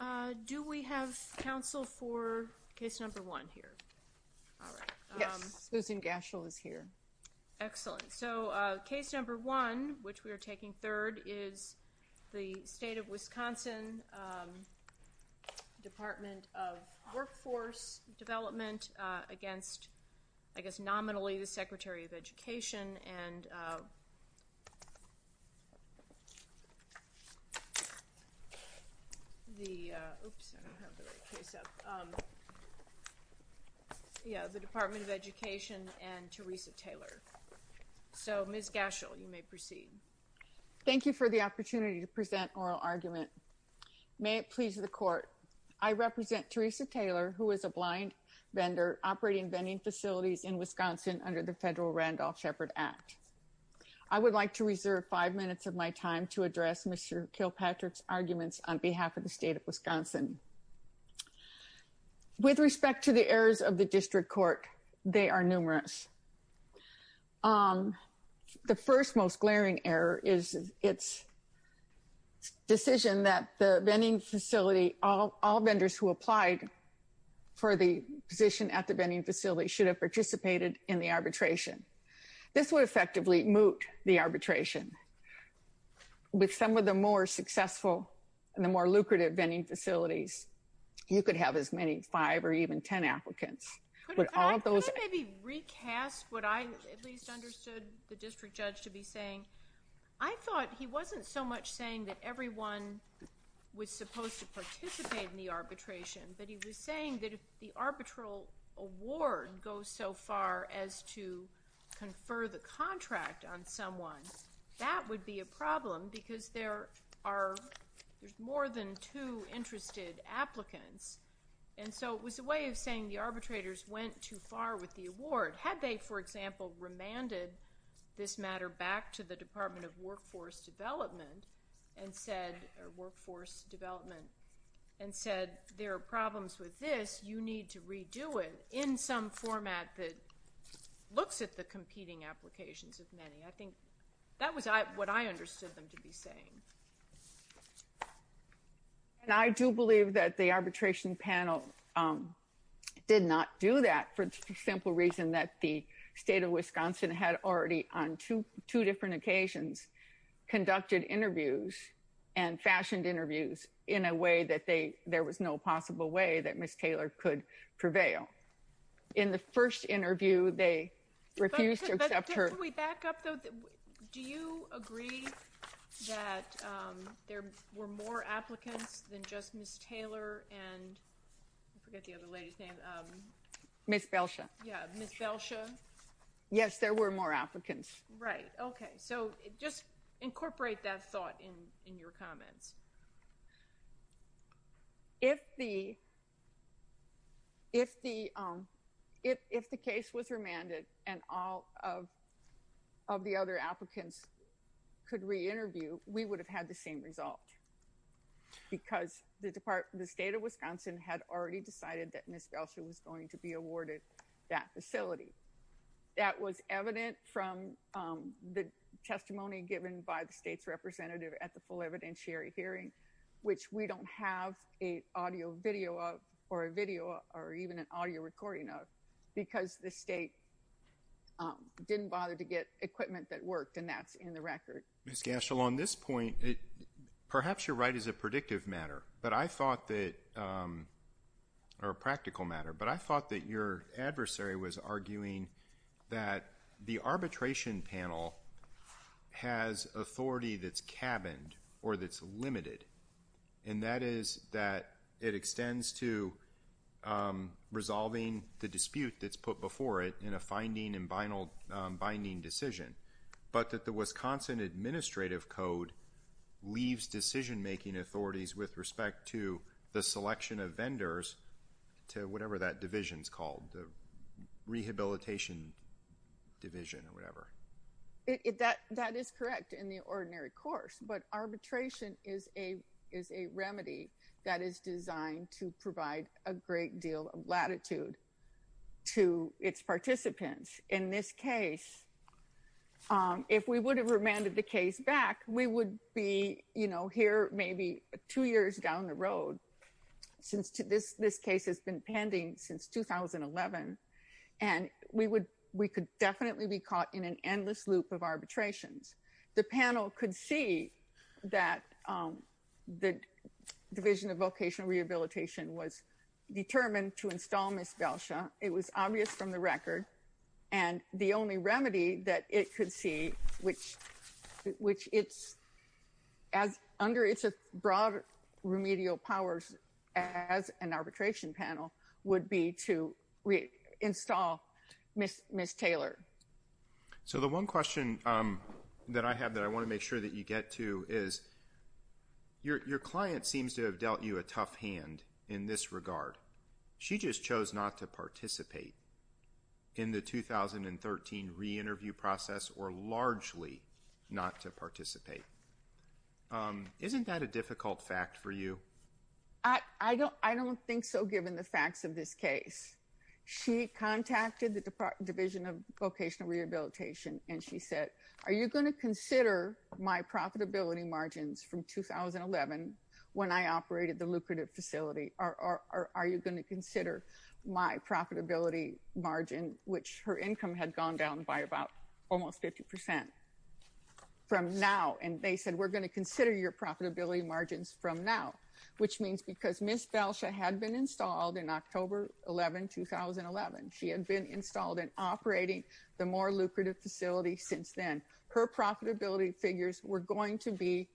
All right. Do we have counsel for case number one here? Yes. Susan Gashell is here. Excellent. So case number one, which we are taking third, is the State of Wisconsin Department of Workforce Development against, I guess nominally, the Secretary of Education and the Department of Education and Teresa Taylor. So, Ms. Gashell, you may proceed. Thank you for the opportunity to present oral argument. May it please the Court, I represent Teresa Taylor, who is a blind vendor operating vending facilities in Wisconsin under the federal Randolph Shepard Act. I would like to reserve five minutes of my time to address Mr. Kilpatrick's arguments on behalf of the State of Wisconsin. With respect to the errors of the district court, they are numerous. The first most glaring error is its decision that the vending facility, all vendors who applied for the position at the vending facility, should have participated in the arbitration. This would effectively moot the arbitration. With some of the more successful and the more lucrative vending facilities, you could have as many as five or even ten applicants. Could I maybe recast what I at least understood the district judge to be saying? I thought he wasn't so much saying that everyone was supposed to participate in the arbitration, but he was saying that if the arbitral award goes so far as to confer the contract on someone, that would be a problem because there are more than two interested applicants. And so it was a way of saying the arbitrators went too far with the award. Had they, for example, remanded this matter back to the Department of Workforce Development and said there are problems with this, you need to redo it in some format that looks at the competing applications of many. I think that was what I understood them to be saying. And I do believe that the arbitration panel did not do that for the simple reason that the state of Wisconsin had already, on two different occasions, conducted interviews and fashioned interviews in a way that there was no possible way that Ms. Taylor could prevail. In the first interview, they refused to accept her. Before we back up, though, do you agree that there were more applicants than just Ms. Taylor and I forget the other lady's name. Ms. Belsha. Yeah, Ms. Belsha. Yes, there were more applicants. Right, okay. So just incorporate that thought in your comments. If the case was remanded and all of the other applicants could re-interview, we would have had the same result. Because the state of Wisconsin had already decided that Ms. Belsha was going to be awarded that facility. That was evident from the testimony given by the state's representative at the full evidentiary hearing, which we don't have an audio video of or a video or even an audio recording of, because the state didn't bother to get equipment that worked, and that's in the record. Ms. Gashel, on this point, perhaps you're right, it's a predictive matter. But I thought that, or a practical matter, but I thought that your adversary was arguing that the arbitration panel has authority that's cabined or that's limited, and that is that it extends to resolving the dispute that's put before it in a finding and binding decision, but that the Wisconsin Administrative Code leaves decision-making authorities with respect to the selection of vendors to whatever that division's called, the rehabilitation division or whatever. That is correct in the ordinary course, but arbitration is a remedy that is designed to provide a great deal of latitude to its participants. In this case, if we would have remanded the case back, we would be here maybe two years down the road since this case has been pending since 2011, and we could definitely be caught in an endless loop of arbitrations. The panel could see that the Division of Vocational Rehabilitation was determined to install Ms. Belsha. It was obvious from the record, and the only remedy that it could see, which it's under its broad remedial powers as an arbitration panel, would be to install Ms. Taylor. So the one question that I have that I want to make sure that you get to is your client seems to have dealt you a tough hand in this regard. She just chose not to participate in the 2013 re-interview process or largely not to participate. Isn't that a difficult fact for you? I don't think so, given the facts of this case. She contacted the Division of Vocational Rehabilitation, and she said, are you going to consider my profitability margins from 2011 when I operated the lucrative facility, or are you going to consider my profitability margin, which her income had gone down by about almost 50%, from now? And they said, we're going to consider your profitability margins from now, which means because Ms. Belsha had been installed in October 11, 2011. She had been installed in operating the more lucrative facility since then. Her profitability figures were going to be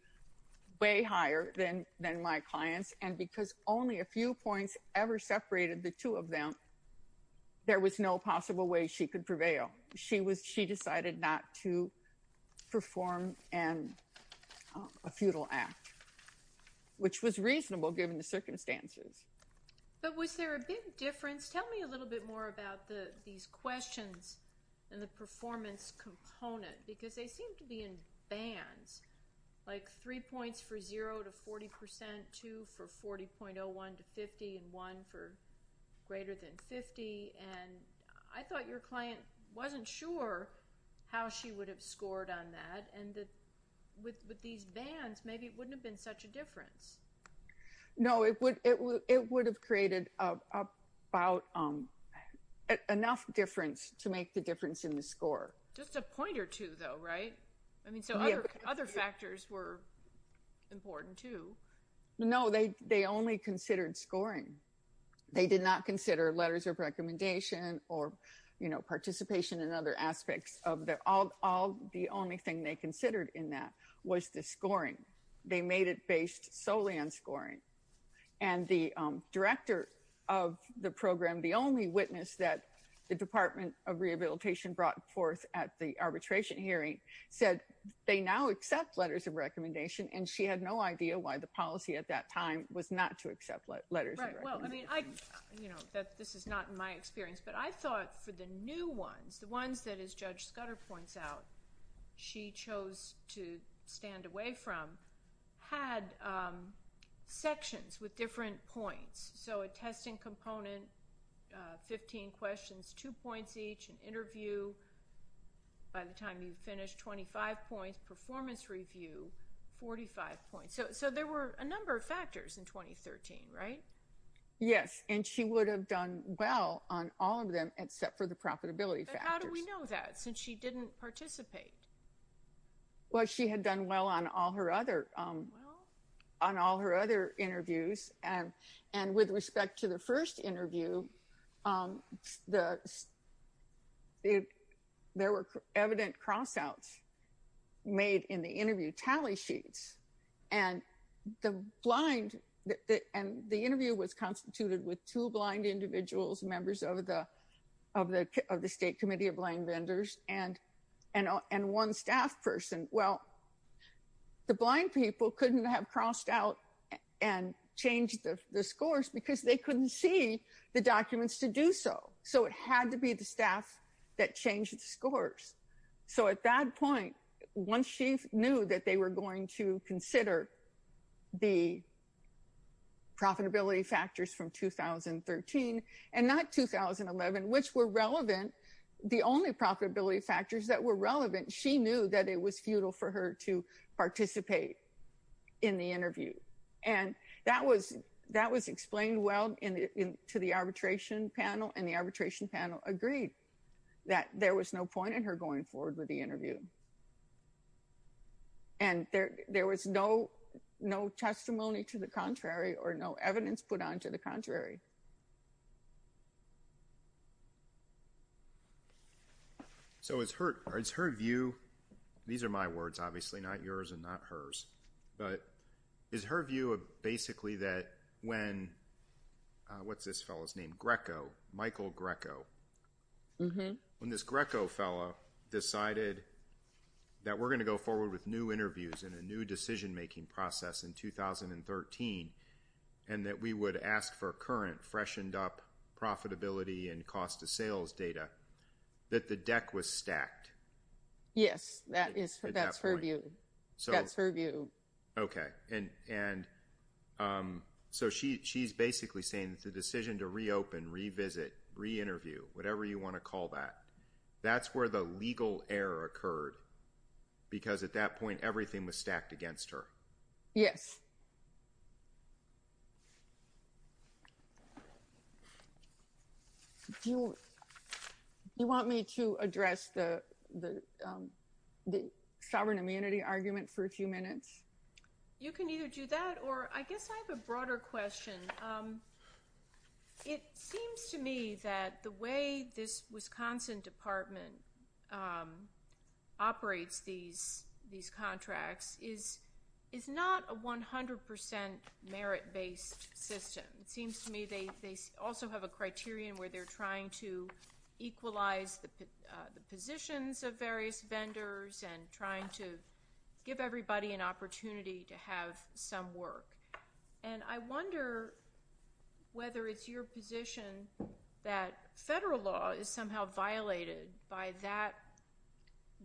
way higher than my clients, and because only a few points ever separated the two of them, there was no possible way she could prevail. She decided not to perform a futile act, which was reasonable given the circumstances. But was there a big difference? Tell me a little bit more about these questions and the performance component, because they seem to be in bands, like three points for 0 to 40%, two for 40.01 to 50, and one for greater than 50. And I thought your client wasn't sure how she would have scored on that, and with these bands, maybe it wouldn't have been such a difference. No, it would have created enough difference to make the difference in the score. Just a point or two, though, right? I mean, so other factors were important, too. No, they only considered scoring. They did not consider letters of recommendation or participation in other aspects. The only thing they considered in that was the scoring. They made it based solely on scoring, and the director of the program, the only witness that the Department of Rehabilitation brought forth at the arbitration hearing, said they now accept letters of recommendation, and she had no idea why the policy at that time was not to accept letters of recommendation. Well, I mean, you know, this is not in my experience, but I thought for the new ones, the ones that, as Judge Scudder points out, she chose to stand away from, had sections with different points, so a testing component, 15 questions, two points each, an interview by the time you finished, 25 points, performance review, 45 points. So there were a number of factors in 2013, right? Yes, and she would have done well on all of them except for the profitability factors. But how do we know that, since she didn't participate? Well, she had done well on all her other interviews, and with respect to the first interview, there were evident cross-outs made in the interview tally sheets, and the interview was constituted with two blind individuals, members of the State Committee of Blind Vendors, and one staff person. Well, the blind people couldn't have crossed out and changed the scores because they couldn't see the documents to do so. So it had to be the staff that changed the scores. So at that point, once she knew that they were going to consider the profitability factors from 2013 and not 2011, which were relevant, the only profitability factors that were relevant, she knew that it was futile for her to participate in the interview. And that was explained well to the arbitration panel, and the arbitration panel agreed that there was no point in her going forward with the interview. And there was no testimony to the contrary or no evidence put on to the contrary. So is her view—these are my words, obviously, not yours and not hers— is her view basically that when—what's this fellow's name? Greco, Michael Greco. When this Greco fellow decided that we're going to go forward with new interviews and a new decision-making process in 2013, and that we would ask for current, freshened-up profitability and cost-of-sales data, that the deck was stacked? Yes, that's her view. That's her view. Okay. And so she's basically saying that the decision to reopen, revisit, re-interview, whatever you want to call that, that's where the legal error occurred, because at that point everything was stacked against her. Yes. Do you want me to address the sovereign amenity argument for a few minutes? You can either do that, or I guess I have a broader question. It seems to me that the way this Wisconsin Department operates these contracts is not a 100% merit-based system. It seems to me they also have a criterion where they're trying to equalize the positions of various vendors and trying to give everybody an opportunity to have some work. And I wonder whether it's your position that federal law is somehow violated by that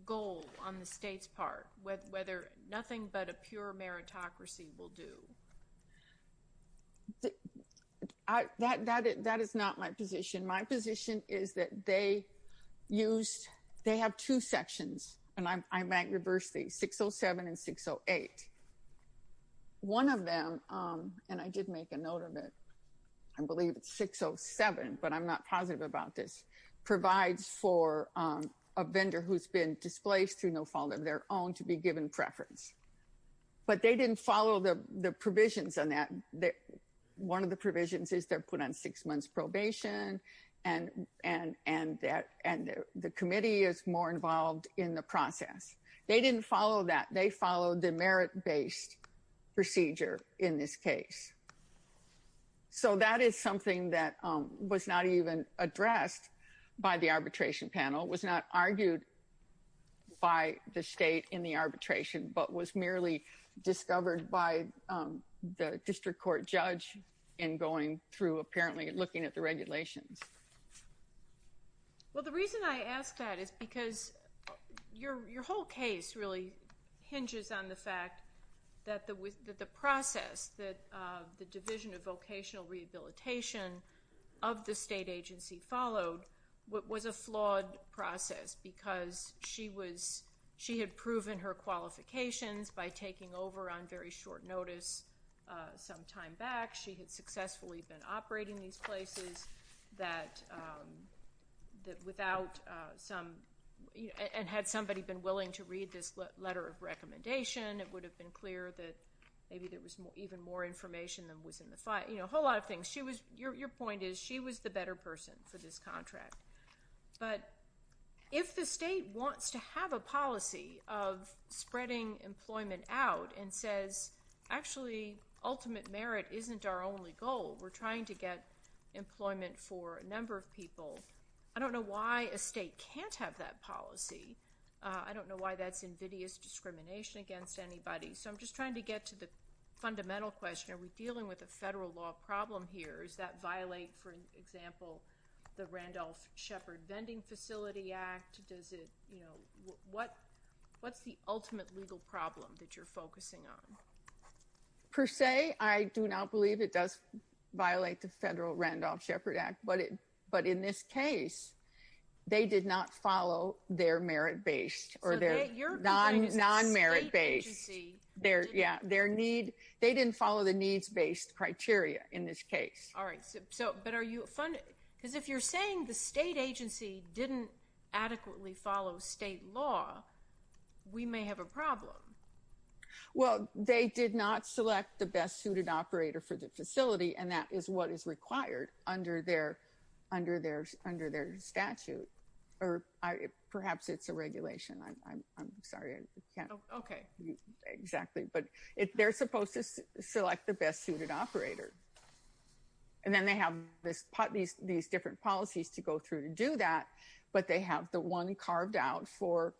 goal on the state's part, whether nothing but a pure meritocracy will do. That is not my position. My position is that they have two sections, and I might reverse these, 607 and 608. One of them, and I did make a note of it, I believe it's 607, but I'm not positive about this, provides for a vendor who's been displaced through no fault of their own to be given preference. But they didn't follow the provisions on that. One of the provisions is they're put on six months probation, and the committee is more involved in the process. They didn't follow that. They followed the merit-based procedure in this case. So that is something that was not even addressed by the arbitration panel, was not argued by the state in the arbitration, but was merely discovered by the district court judge in going through, apparently looking at the regulations. Well, the reason I ask that is because your whole case really hinges on the fact that the process that the Division of Vocational Rehabilitation of the state agency followed was a flawed process because she had proven her qualifications by taking over on very short notice some time back. She had successfully been operating these places, and had somebody been willing to read this letter of recommendation, it would have been clear that maybe there was even more information than was in the file. You know, a whole lot of things. Your point is she was the better person for this contract. But if the state wants to have a policy of spreading employment out and says, actually, ultimate merit isn't our only goal, we're trying to get employment for a number of people, I don't know why a state can't have that policy. I don't know why that's invidious discrimination against anybody. So I'm just trying to get to the fundamental question. Are we dealing with a federal law problem here? Does that violate, for example, the Randolph Shepard Vending Facility Act? Does it, you know, what's the ultimate legal problem that you're focusing on? Per se, I do not believe it does violate the federal Randolph Shepard Act. But in this case, they did not follow their merit-based or their non-merit-based. Yeah, their need, they didn't follow the needs-based criteria in this case. All right. But are you, because if you're saying the state agency didn't adequately follow state law, we may have a problem. Well, they did not select the best suited operator for the facility, and that is what is required under their statute. Or perhaps it's a regulation. I'm sorry. Okay. Exactly. But they're supposed to select the best suited operator. And then they have these different policies to go through to do that, but they have the one carved out for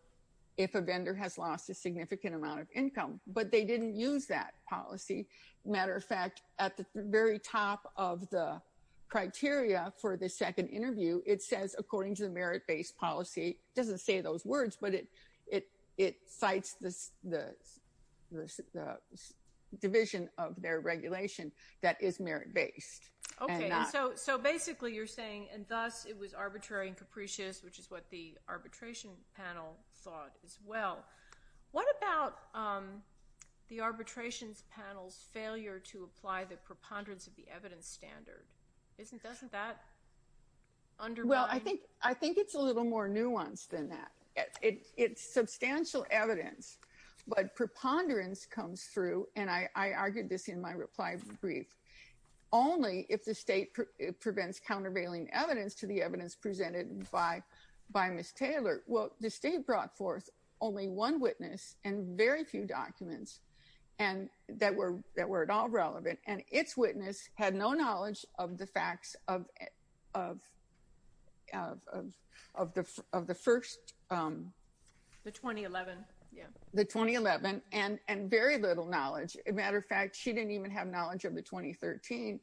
if a vendor has lost a significant amount of income. But they didn't use that policy. Matter of fact, at the very top of the criteria for the second interview, it says according to the merit-based policy. It doesn't say those words, but it cites the division of their regulation that is merit-based. Okay. So basically you're saying, and thus it was arbitrary and capricious, which is what the arbitration panel thought as well. What about the arbitration panel's failure to apply the preponderance of the evidence standard? Doesn't that undermine? Well, I think it's a little more nuanced than that. It's substantial evidence, but preponderance comes through, and I argued this in my reply brief, only if the state prevents countervailing evidence to the evidence presented by Ms. Taylor. Well, the state brought forth only one witness and very few documents that were at all relevant, and its witness had no knowledge of the facts of the first. The 2011. The 2011, and very little knowledge. As a matter of fact, she didn't even have knowledge of the 2013.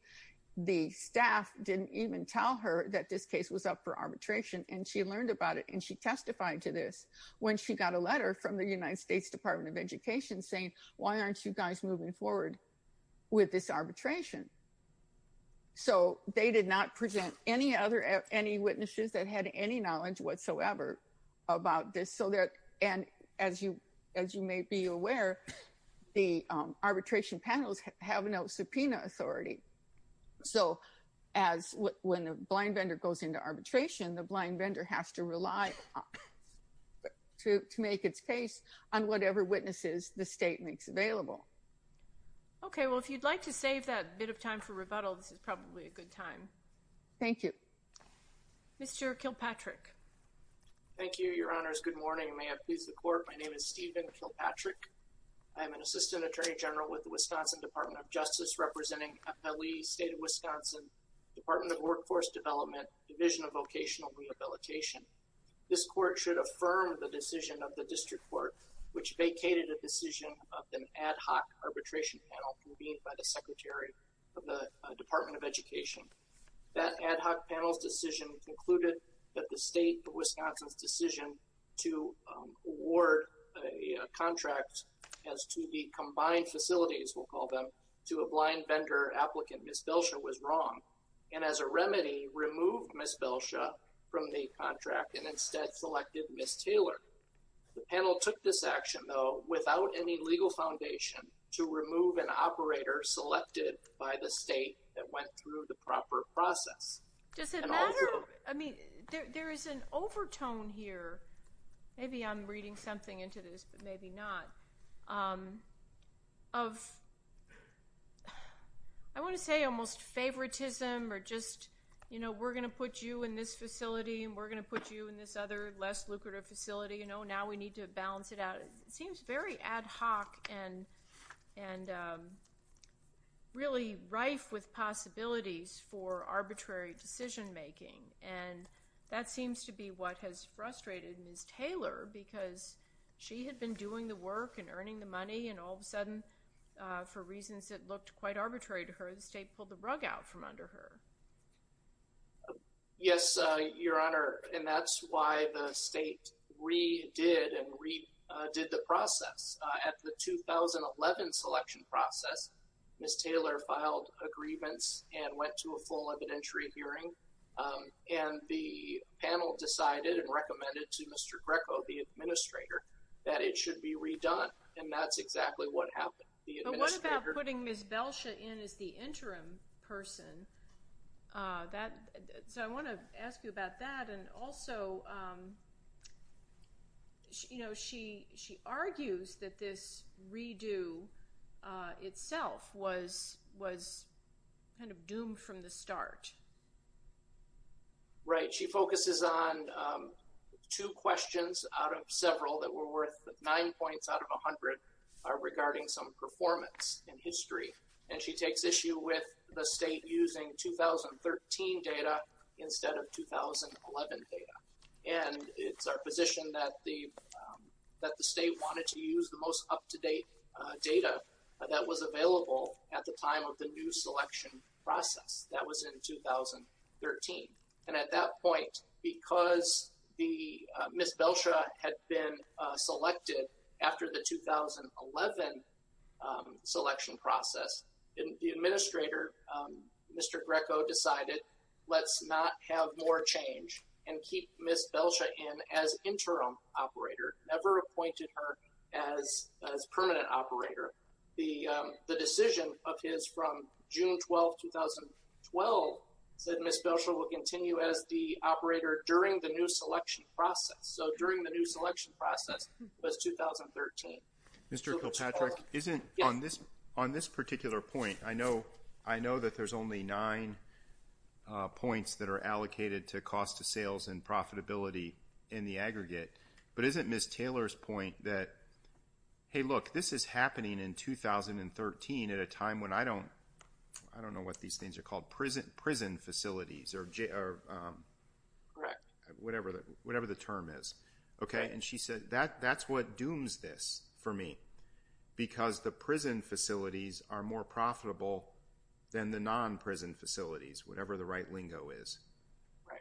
The staff didn't even tell her that this case was up for arbitration, and she learned about it, and she testified to this when she got a letter from the United States Department of Education saying, why aren't you guys moving forward with this arbitration? So they did not present any witnesses that had any knowledge whatsoever about this. And as you may be aware, the arbitration panels have no subpoena authority. So when a blind vendor goes into arbitration, the blind vendor has to rely to make its case on whatever witnesses the state makes available. Okay. Well, if you'd like to save that bit of time for rebuttal, this is probably a good time. Thank you. Mr. Kilpatrick. Thank you, Your Honors. Good morning. May I please the Court? My name is Stephen Kilpatrick. I am an Assistant Attorney General with the Wisconsin Department of Justice representing FLE State of Wisconsin, Department of Workforce Development, Division of Vocational Rehabilitation. This Court should affirm the decision of the District Court, which vacated a decision of an ad hoc arbitration panel convened by the Secretary of the Department of Education. That ad hoc panel's decision concluded that the State of Wisconsin's decision to award a contract as to the combined facilities, we'll call them, to a blind vendor applicant, Ms. Belsha, was wrong, and as a remedy removed Ms. Belsha from the contract and instead selected Ms. Taylor. The panel took this action, though, without any legal foundation to remove an operator selected by the state that went through the proper process. Does it matter? I mean, there is an overtone here. Maybe I'm reading something into this, but maybe not. I want to say almost favoritism or just, you know, we're going to put you in this facility and we're going to put you in this other less lucrative facility, and now we need to balance it out. It seems very ad hoc and really rife with possibilities for arbitrary decision making, and that seems to be what has frustrated Ms. Taylor because she had been doing the work and earning the money, and all of a sudden, for reasons that looked quite arbitrary to her, the state pulled the rug out from under her. Yes, Your Honor, and that's why the state redid and redid the process. At the 2011 selection process, Ms. Taylor filed a grievance and went to a full evidentiary hearing, and the panel decided and recommended to Mr. Greco, the administrator, that it should be redone, and that's exactly what happened. But what about putting Ms. Belsha in as the interim person? So I want to ask you about that, and also, you know, she argues that this redo itself was kind of doomed from the start. Right. She focuses on two questions out of several that were worth nine points out of 100 regarding some performance in history, and she takes issue with the state using 2013 data instead of 2011 data, and it's our position that the state wanted to use the most up-to-date data that was available at the time of the new selection process. That was in 2013. And at that point, because Ms. Belsha had been selected after the 2011 selection process, the administrator, Mr. Greco, decided let's not have more change and keep Ms. Belsha in as interim operator, never appointed her as permanent operator. The decision of his from June 12, 2012 said Ms. Belsha will continue as the operator during the new selection process, so during the new selection process was 2013. Mr. Kilpatrick, isn't on this particular point, I know that there's only nine points that are allocated to cost of sales and profitability in the aggregate, but isn't Ms. Taylor's point that, hey, look, this is happening in 2013 at a time when I don't know what these things are called, prison facilities or whatever the term is. And she said that's what dooms this for me because the prison facilities are more profitable than the non-prison facilities, whatever the right lingo is.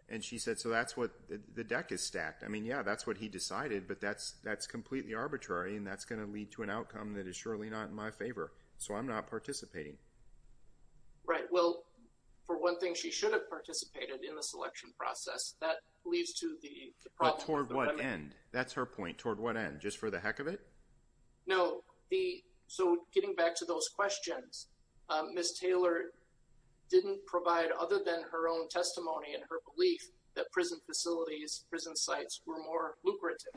And she said so that's what the deck is stacked. I mean, yeah, that's what he decided, but that's completely arbitrary, and that's going to lead to an outcome that is surely not in my favor, so I'm not participating. Right. Well, for one thing, she should have participated in the selection process. That leads to the problem. But toward what end? That's her point. Toward what end? Just for the heck of it? No. So getting back to those questions, Ms. Taylor didn't provide other than her own testimony and her belief that prison facilities, prison sites were more lucrative.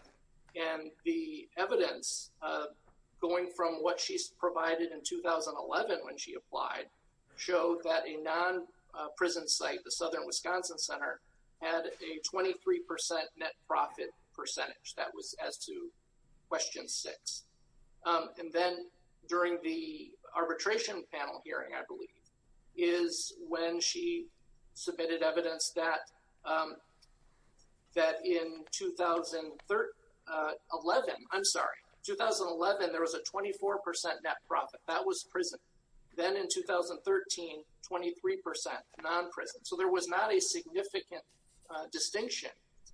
And the evidence going from what she provided in 2011 when she applied showed that a non-prison site, the Southern Wisconsin Center, had a 23% net profit percentage. That was as to question six. And then during the arbitration panel hearing, I believe, is when she submitted evidence that in 2011, I'm sorry, 2011 there was a 24% net profit. That was prison. Then in 2013, 23% non-prison. So there was not a significant distinction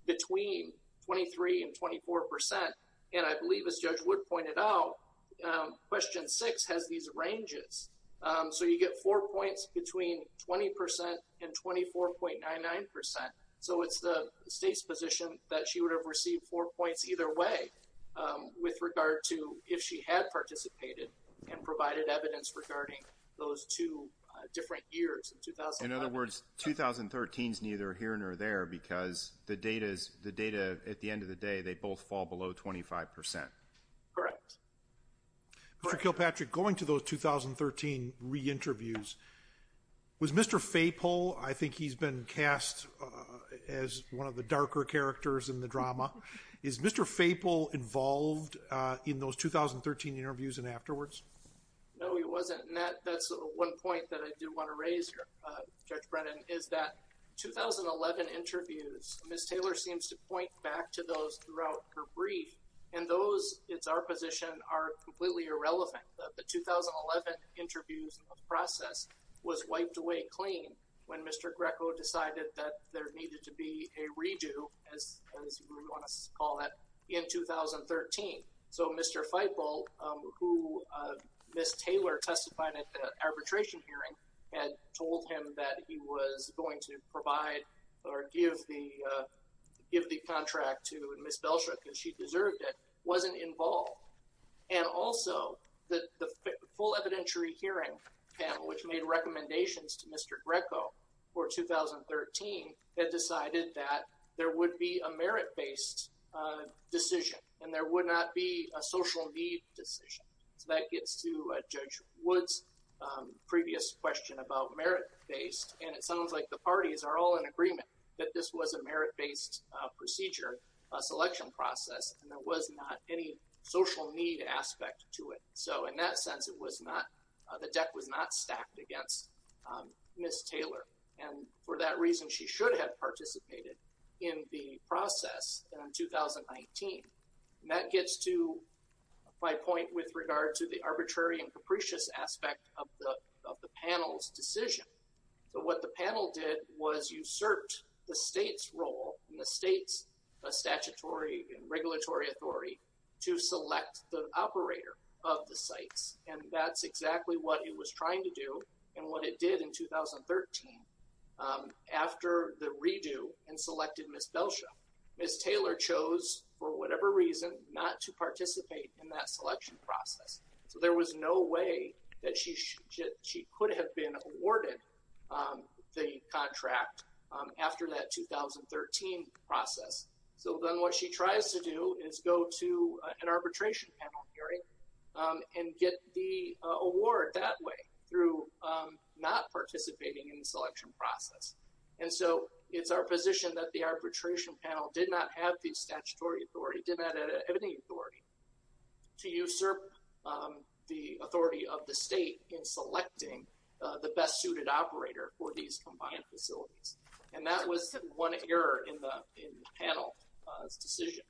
between 23% and 24%. And I believe, as Judge Wood pointed out, question six has these ranges. So you get four points between 20% and 24.99%. So it's the state's position that she would have received four points either way with regard to if she had participated and provided evidence regarding those two different years in 2011. In other words, 2013 is neither here nor there because the data, at the end of the day, they both fall below 25%. Correct. Mr. Kilpatrick, going to those 2013 re-interviews, was Mr. Faple, I think he's been cast as one of the darker characters in the drama, is Mr. Faple involved in those 2013 interviews and afterwards? No, he wasn't. And that's one point that I do want to raise, Judge Brennan, is that 2011 interviews, Ms. Taylor seems to point back to those throughout her brief. And those, it's our position, are completely irrelevant. The 2011 interviews process was wiped away clean when Mr. Greco decided that there needed to be a redo, as we want to call it, in 2013. So Mr. Faple, who Ms. Taylor testified at the arbitration hearing, had told him that he was going to provide or give the contract to Ms. Belshook and she deserved it, wasn't involved. And also, the full evidentiary hearing panel, which made recommendations to Mr. Greco for 2013, had decided that there would be a merit-based decision and there would not be a social need decision. So that gets to Judge Wood's previous question about merit-based, and it sounds like the parties are all in agreement that this was a merit-based procedure, a selection process, and there was not any social need aspect to it. So in that sense, it was not, the deck was not stacked against Ms. Taylor. And for that reason, she should have participated in the process in 2019. And that gets to my point with regard to the arbitrary and capricious aspect of the panel's decision. So what the panel did was usurped the state's role and the state's statutory and regulatory authority to select the operator of the sites. And that's exactly what it was trying to do and what it did in 2013 after the redo and selected Ms. Belshook. Ms. Taylor chose, for whatever reason, not to participate in that selection process. So there was no way that she could have been awarded the contract after that 2013 process. So then what she tries to do is go to an arbitration panel hearing and get the award that way through not participating in the selection process. And so it's our position that the arbitration panel did not have the statutory authority, did not have any authority, to usurp the authority of the state in selecting the best suited operator for these combined facilities. And that was one error in the panel's decision.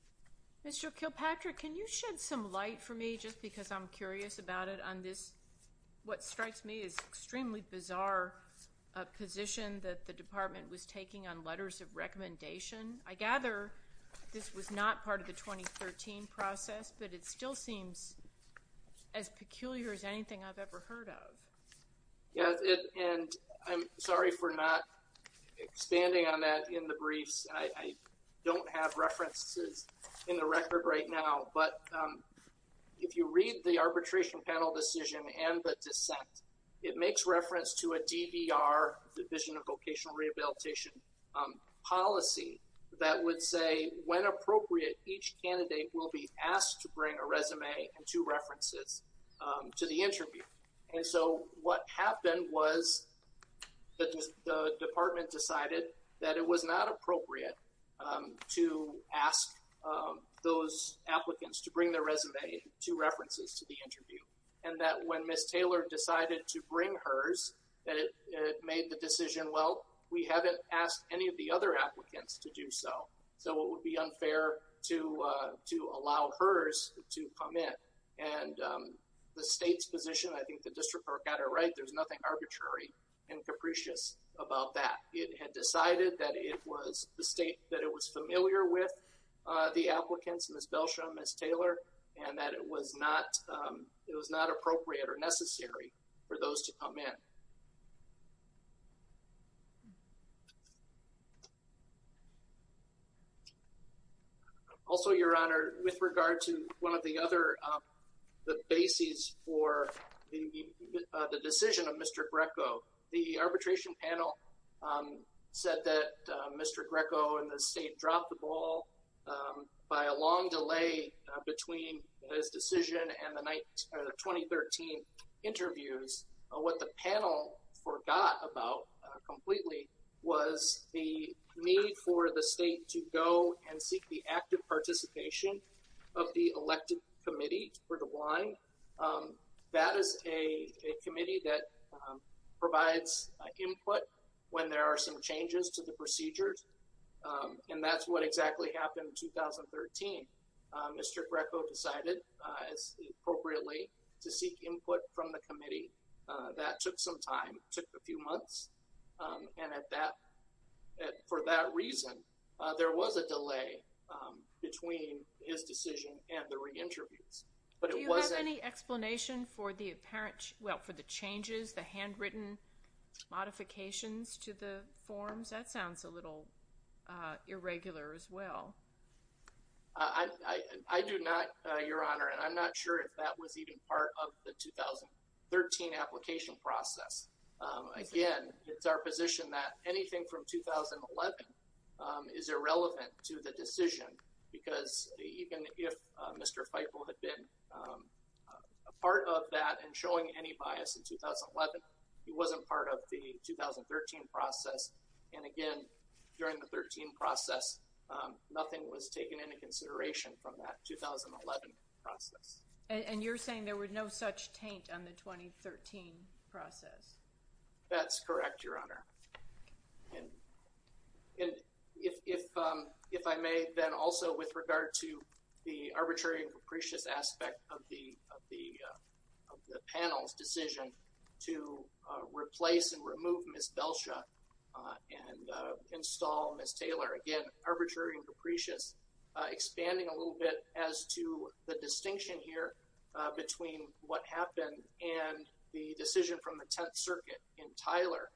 Mr. Kilpatrick, can you shed some light for me just because I'm curious about it on this, what strikes me is extremely bizarre position that the department was taking on letters of recommendation. I gather this was not part of the 2013 process, but it still seems as peculiar as anything I've ever heard of. And I'm sorry for not expanding on that in the briefs. I don't have references in the record right now. But if you read the arbitration panel decision and the dissent, it makes reference to a DVR, Division of Vocational Rehabilitation, policy that would say when appropriate, each candidate will be asked to bring a resume and two references to the interview. And so what happened was that the department decided that it was not appropriate to ask those applicants to bring their resume, two references to the interview, and that when Ms. Taylor decided to bring hers, that it made the decision, well, we haven't asked any of the other applicants to do so. So it would be unfair to allow hers to come in. And the state's position, I think the district court got it right. There's nothing arbitrary and capricious about that. It had decided that it was the state that it was familiar with the applicants, Ms. Belsham, Ms. Taylor, and that it was not appropriate or necessary for those to come in. Also, Your Honor, with regard to one of the other bases for the decision of Mr. Greco, the arbitration panel said that Mr. Greco and the state dropped the ball by a long delay between his decision and the 2013 interviews. What the panel forgot about completely was the need for the state to go and seek the active participation of the elected committee for the blind. That is a committee that provides input when there are some changes to the procedures. And that's what exactly happened in 2013. Mr. Greco decided, appropriately, to seek input from the committee. That took some time. It took a few months. And for that reason, there was a delay between his decision and the re-interviews. Do you have any explanation for the changes, the handwritten modifications to the forms? That sounds a little irregular as well. I do not, Your Honor, and I'm not sure if that was even part of the 2013 application process. Again, it's our position that anything from 2011 is irrelevant to the decision, because even if Mr. Feigl had been a part of that and showing any bias in 2011, he wasn't part of the 2013 process. And again, during the 2013 process, nothing was taken into consideration from that 2011 process. And you're saying there was no such taint on the 2013 process? That's correct, Your Honor. And if I may then also with regard to the arbitrary and capricious aspect of the panel's decision to replace and remove Ms. Belsha and install Ms. Taylor. Again, arbitrary and capricious. Expanding a little bit as to the distinction here between what happened and the decision from the Tenth Circuit in Tyler.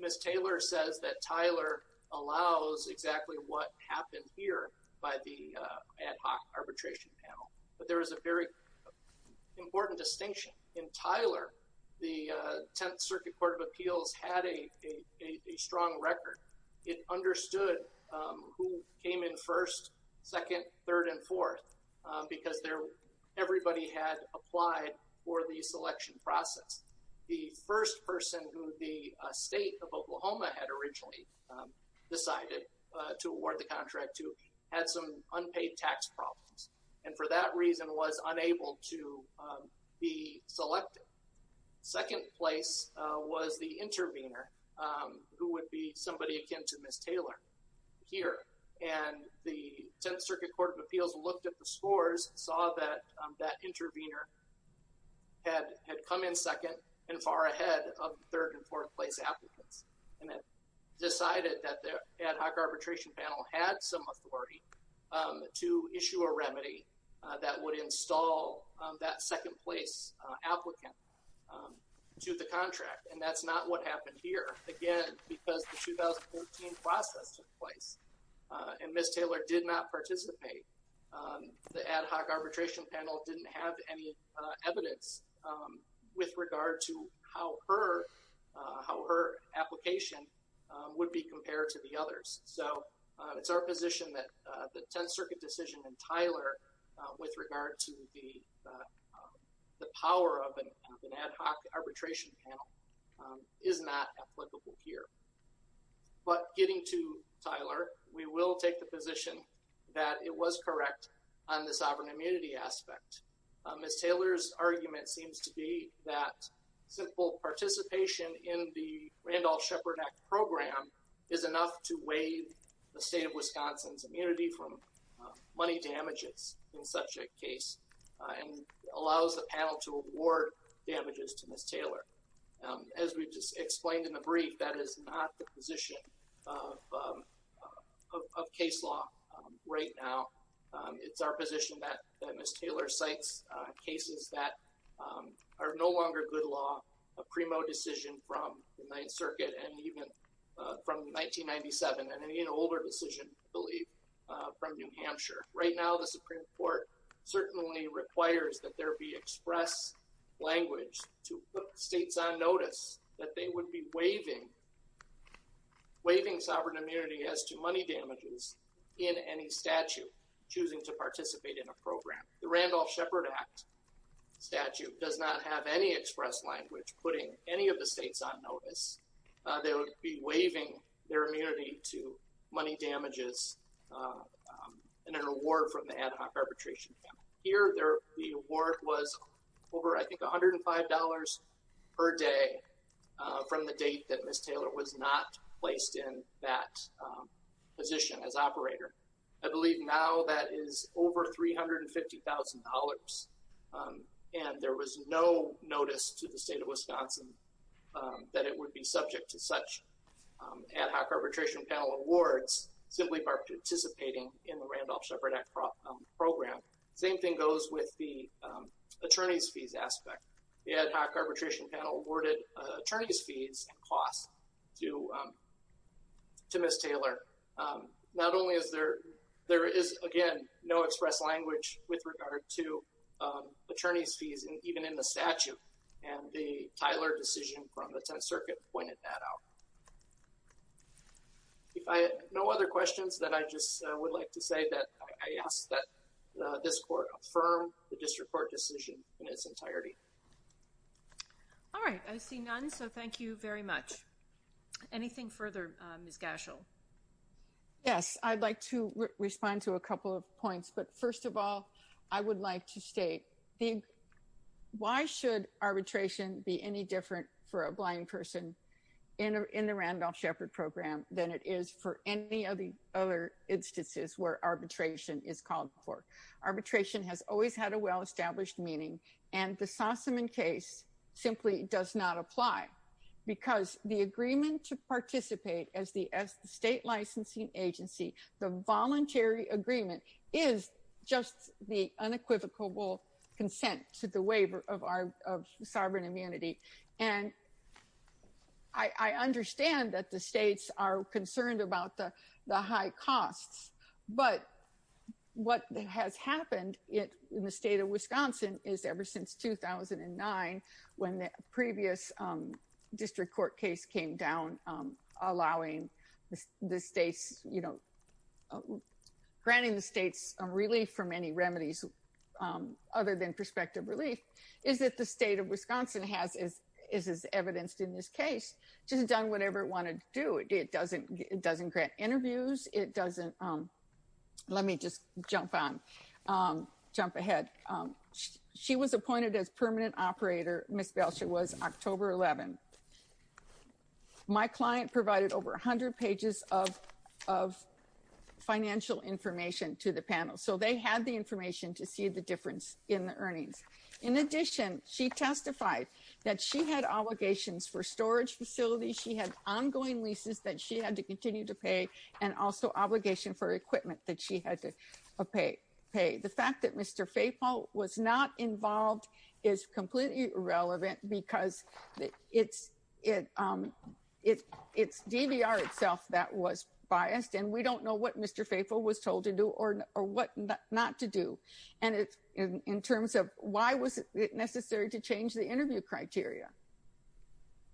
Ms. Taylor says that Tyler allows exactly what happened here by the ad hoc arbitration panel. But there is a very important distinction. In Tyler, the Tenth Circuit Court of Appeals had a strong record. It understood who came in first, second, third, and fourth because everybody had applied for the selection process. The first person who the state of Oklahoma had originally decided to award the contract to had some unpaid tax problems and for that reason was unable to be selected. Second place was the intervener who would be somebody akin to Ms. Taylor here. And the Tenth Circuit Court of Appeals looked at the scores, saw that that intervener had come in second and far ahead of third and fourth place applicants. And decided that the ad hoc arbitration panel had some authority to issue a remedy that would install that second place applicant to the contract. And that's not what happened here. Again, because the 2014 process took place and Ms. Taylor did not participate, the ad hoc arbitration panel didn't have any evidence with regard to how her application would be compared to the others. So it's our position that the Tenth Circuit decision in Tyler with regard to the power of an ad hoc arbitration panel is not applicable here. But getting to Tyler, we will take the position that it was correct on the sovereign immunity aspect. Ms. Taylor's argument seems to be that simple participation in the Randolph-Shepard Act program is enough to waive the state of Wisconsin's immunity from money damages in such a case and allows the panel to award damages to Ms. Taylor. As we just explained in the brief, that is not the position of case law right now. It's our position that Ms. Taylor cites cases that are no longer good law. A primo decision from the Ninth Circuit and even from 1997 and an even older decision, I believe, from New Hampshire. Right now, the Supreme Court certainly requires that there be express language to put states on notice that they would be waiving sovereign immunity as to money damages in any statute choosing to participate in a program. The Randolph-Shepard Act statute does not have any express language putting any of the states on notice. They would be waiving their immunity to money damages in an award from the ad hoc arbitration panel. Here, the award was over, I think, $105 per day from the date that Ms. Taylor was not placed in that position as operator. I believe now that is over $350,000. And there was no notice to the state of Wisconsin that it would be subject to such ad hoc arbitration panel awards simply by participating in the Randolph-Shepard Act program. Same thing goes with the attorney's fees aspect. The ad hoc arbitration panel awarded attorney's fees and costs to Ms. Taylor. Not only is there—there is, again, no express language with regard to attorney's fees even in the statute, and the Tyler decision from the Tenth Circuit pointed that out. If I have no other questions, then I just would like to say that I ask that this court affirm the district court decision in its entirety. All right. I see none, so thank you very much. Anything further, Ms. Gashel? Yes, I'd like to respond to a couple of points, but first of all, I would like to state, why should arbitration be any different for a blind person in the Randolph-Shepard program than it is for any of the other instances where arbitration is called for? Arbitration has always had a well-established meaning, and the Sossaman case simply does not apply because the agreement to participate as the state licensing agency, the voluntary agreement, is just the unequivocal consent to the waiver of sovereign immunity. And I understand that the states are concerned about the high costs, but what has happened in the state of Wisconsin is ever since 2009, when the previous district court case came down, granting the states relief from any remedies other than prospective relief, is that the state of Wisconsin has, as is evidenced in this case, just done whatever it wanted to do. It doesn't grant interviews. Let me just jump ahead. She was appointed as permanent operator. Ms. Gashel was October 11. My client provided over 100 pages of financial information to the panel, so they had the information to see the difference in the earnings. In addition, she testified that she had allegations for storage facilities. She had ongoing leases that she had to continue to pay, and also obligation for equipment that she had to pay. The fact that Mr. Faithfull was not involved is completely irrelevant because it's DVR itself that was biased, and we don't know what Mr. Faithfull was told to do or what not to do. And in terms of why was it necessary to change the interview criteria,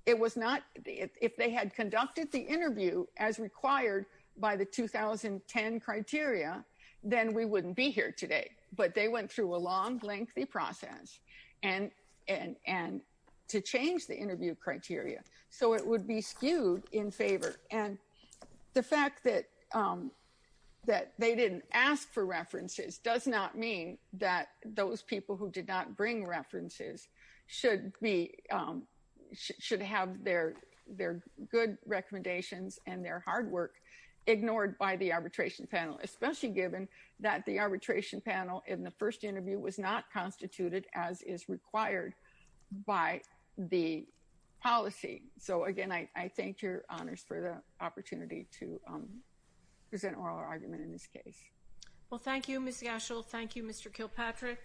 if they had conducted the interview as required by the 2010 criteria, then we wouldn't be here today. But they went through a long, lengthy process to change the interview criteria, so it would be skewed in favor. And the fact that they didn't ask for references does not mean that those people who did not bring references should have their good recommendations and their hard work ignored by the arbitration panel, especially given that the arbitration panel in the first interview was not constituted as is required by the policy. So, again, I thank your honors for the opportunity to present oral argument in this case. Well, thank you, Ms. Gashel. Thank you, Mr. Kilpatrick.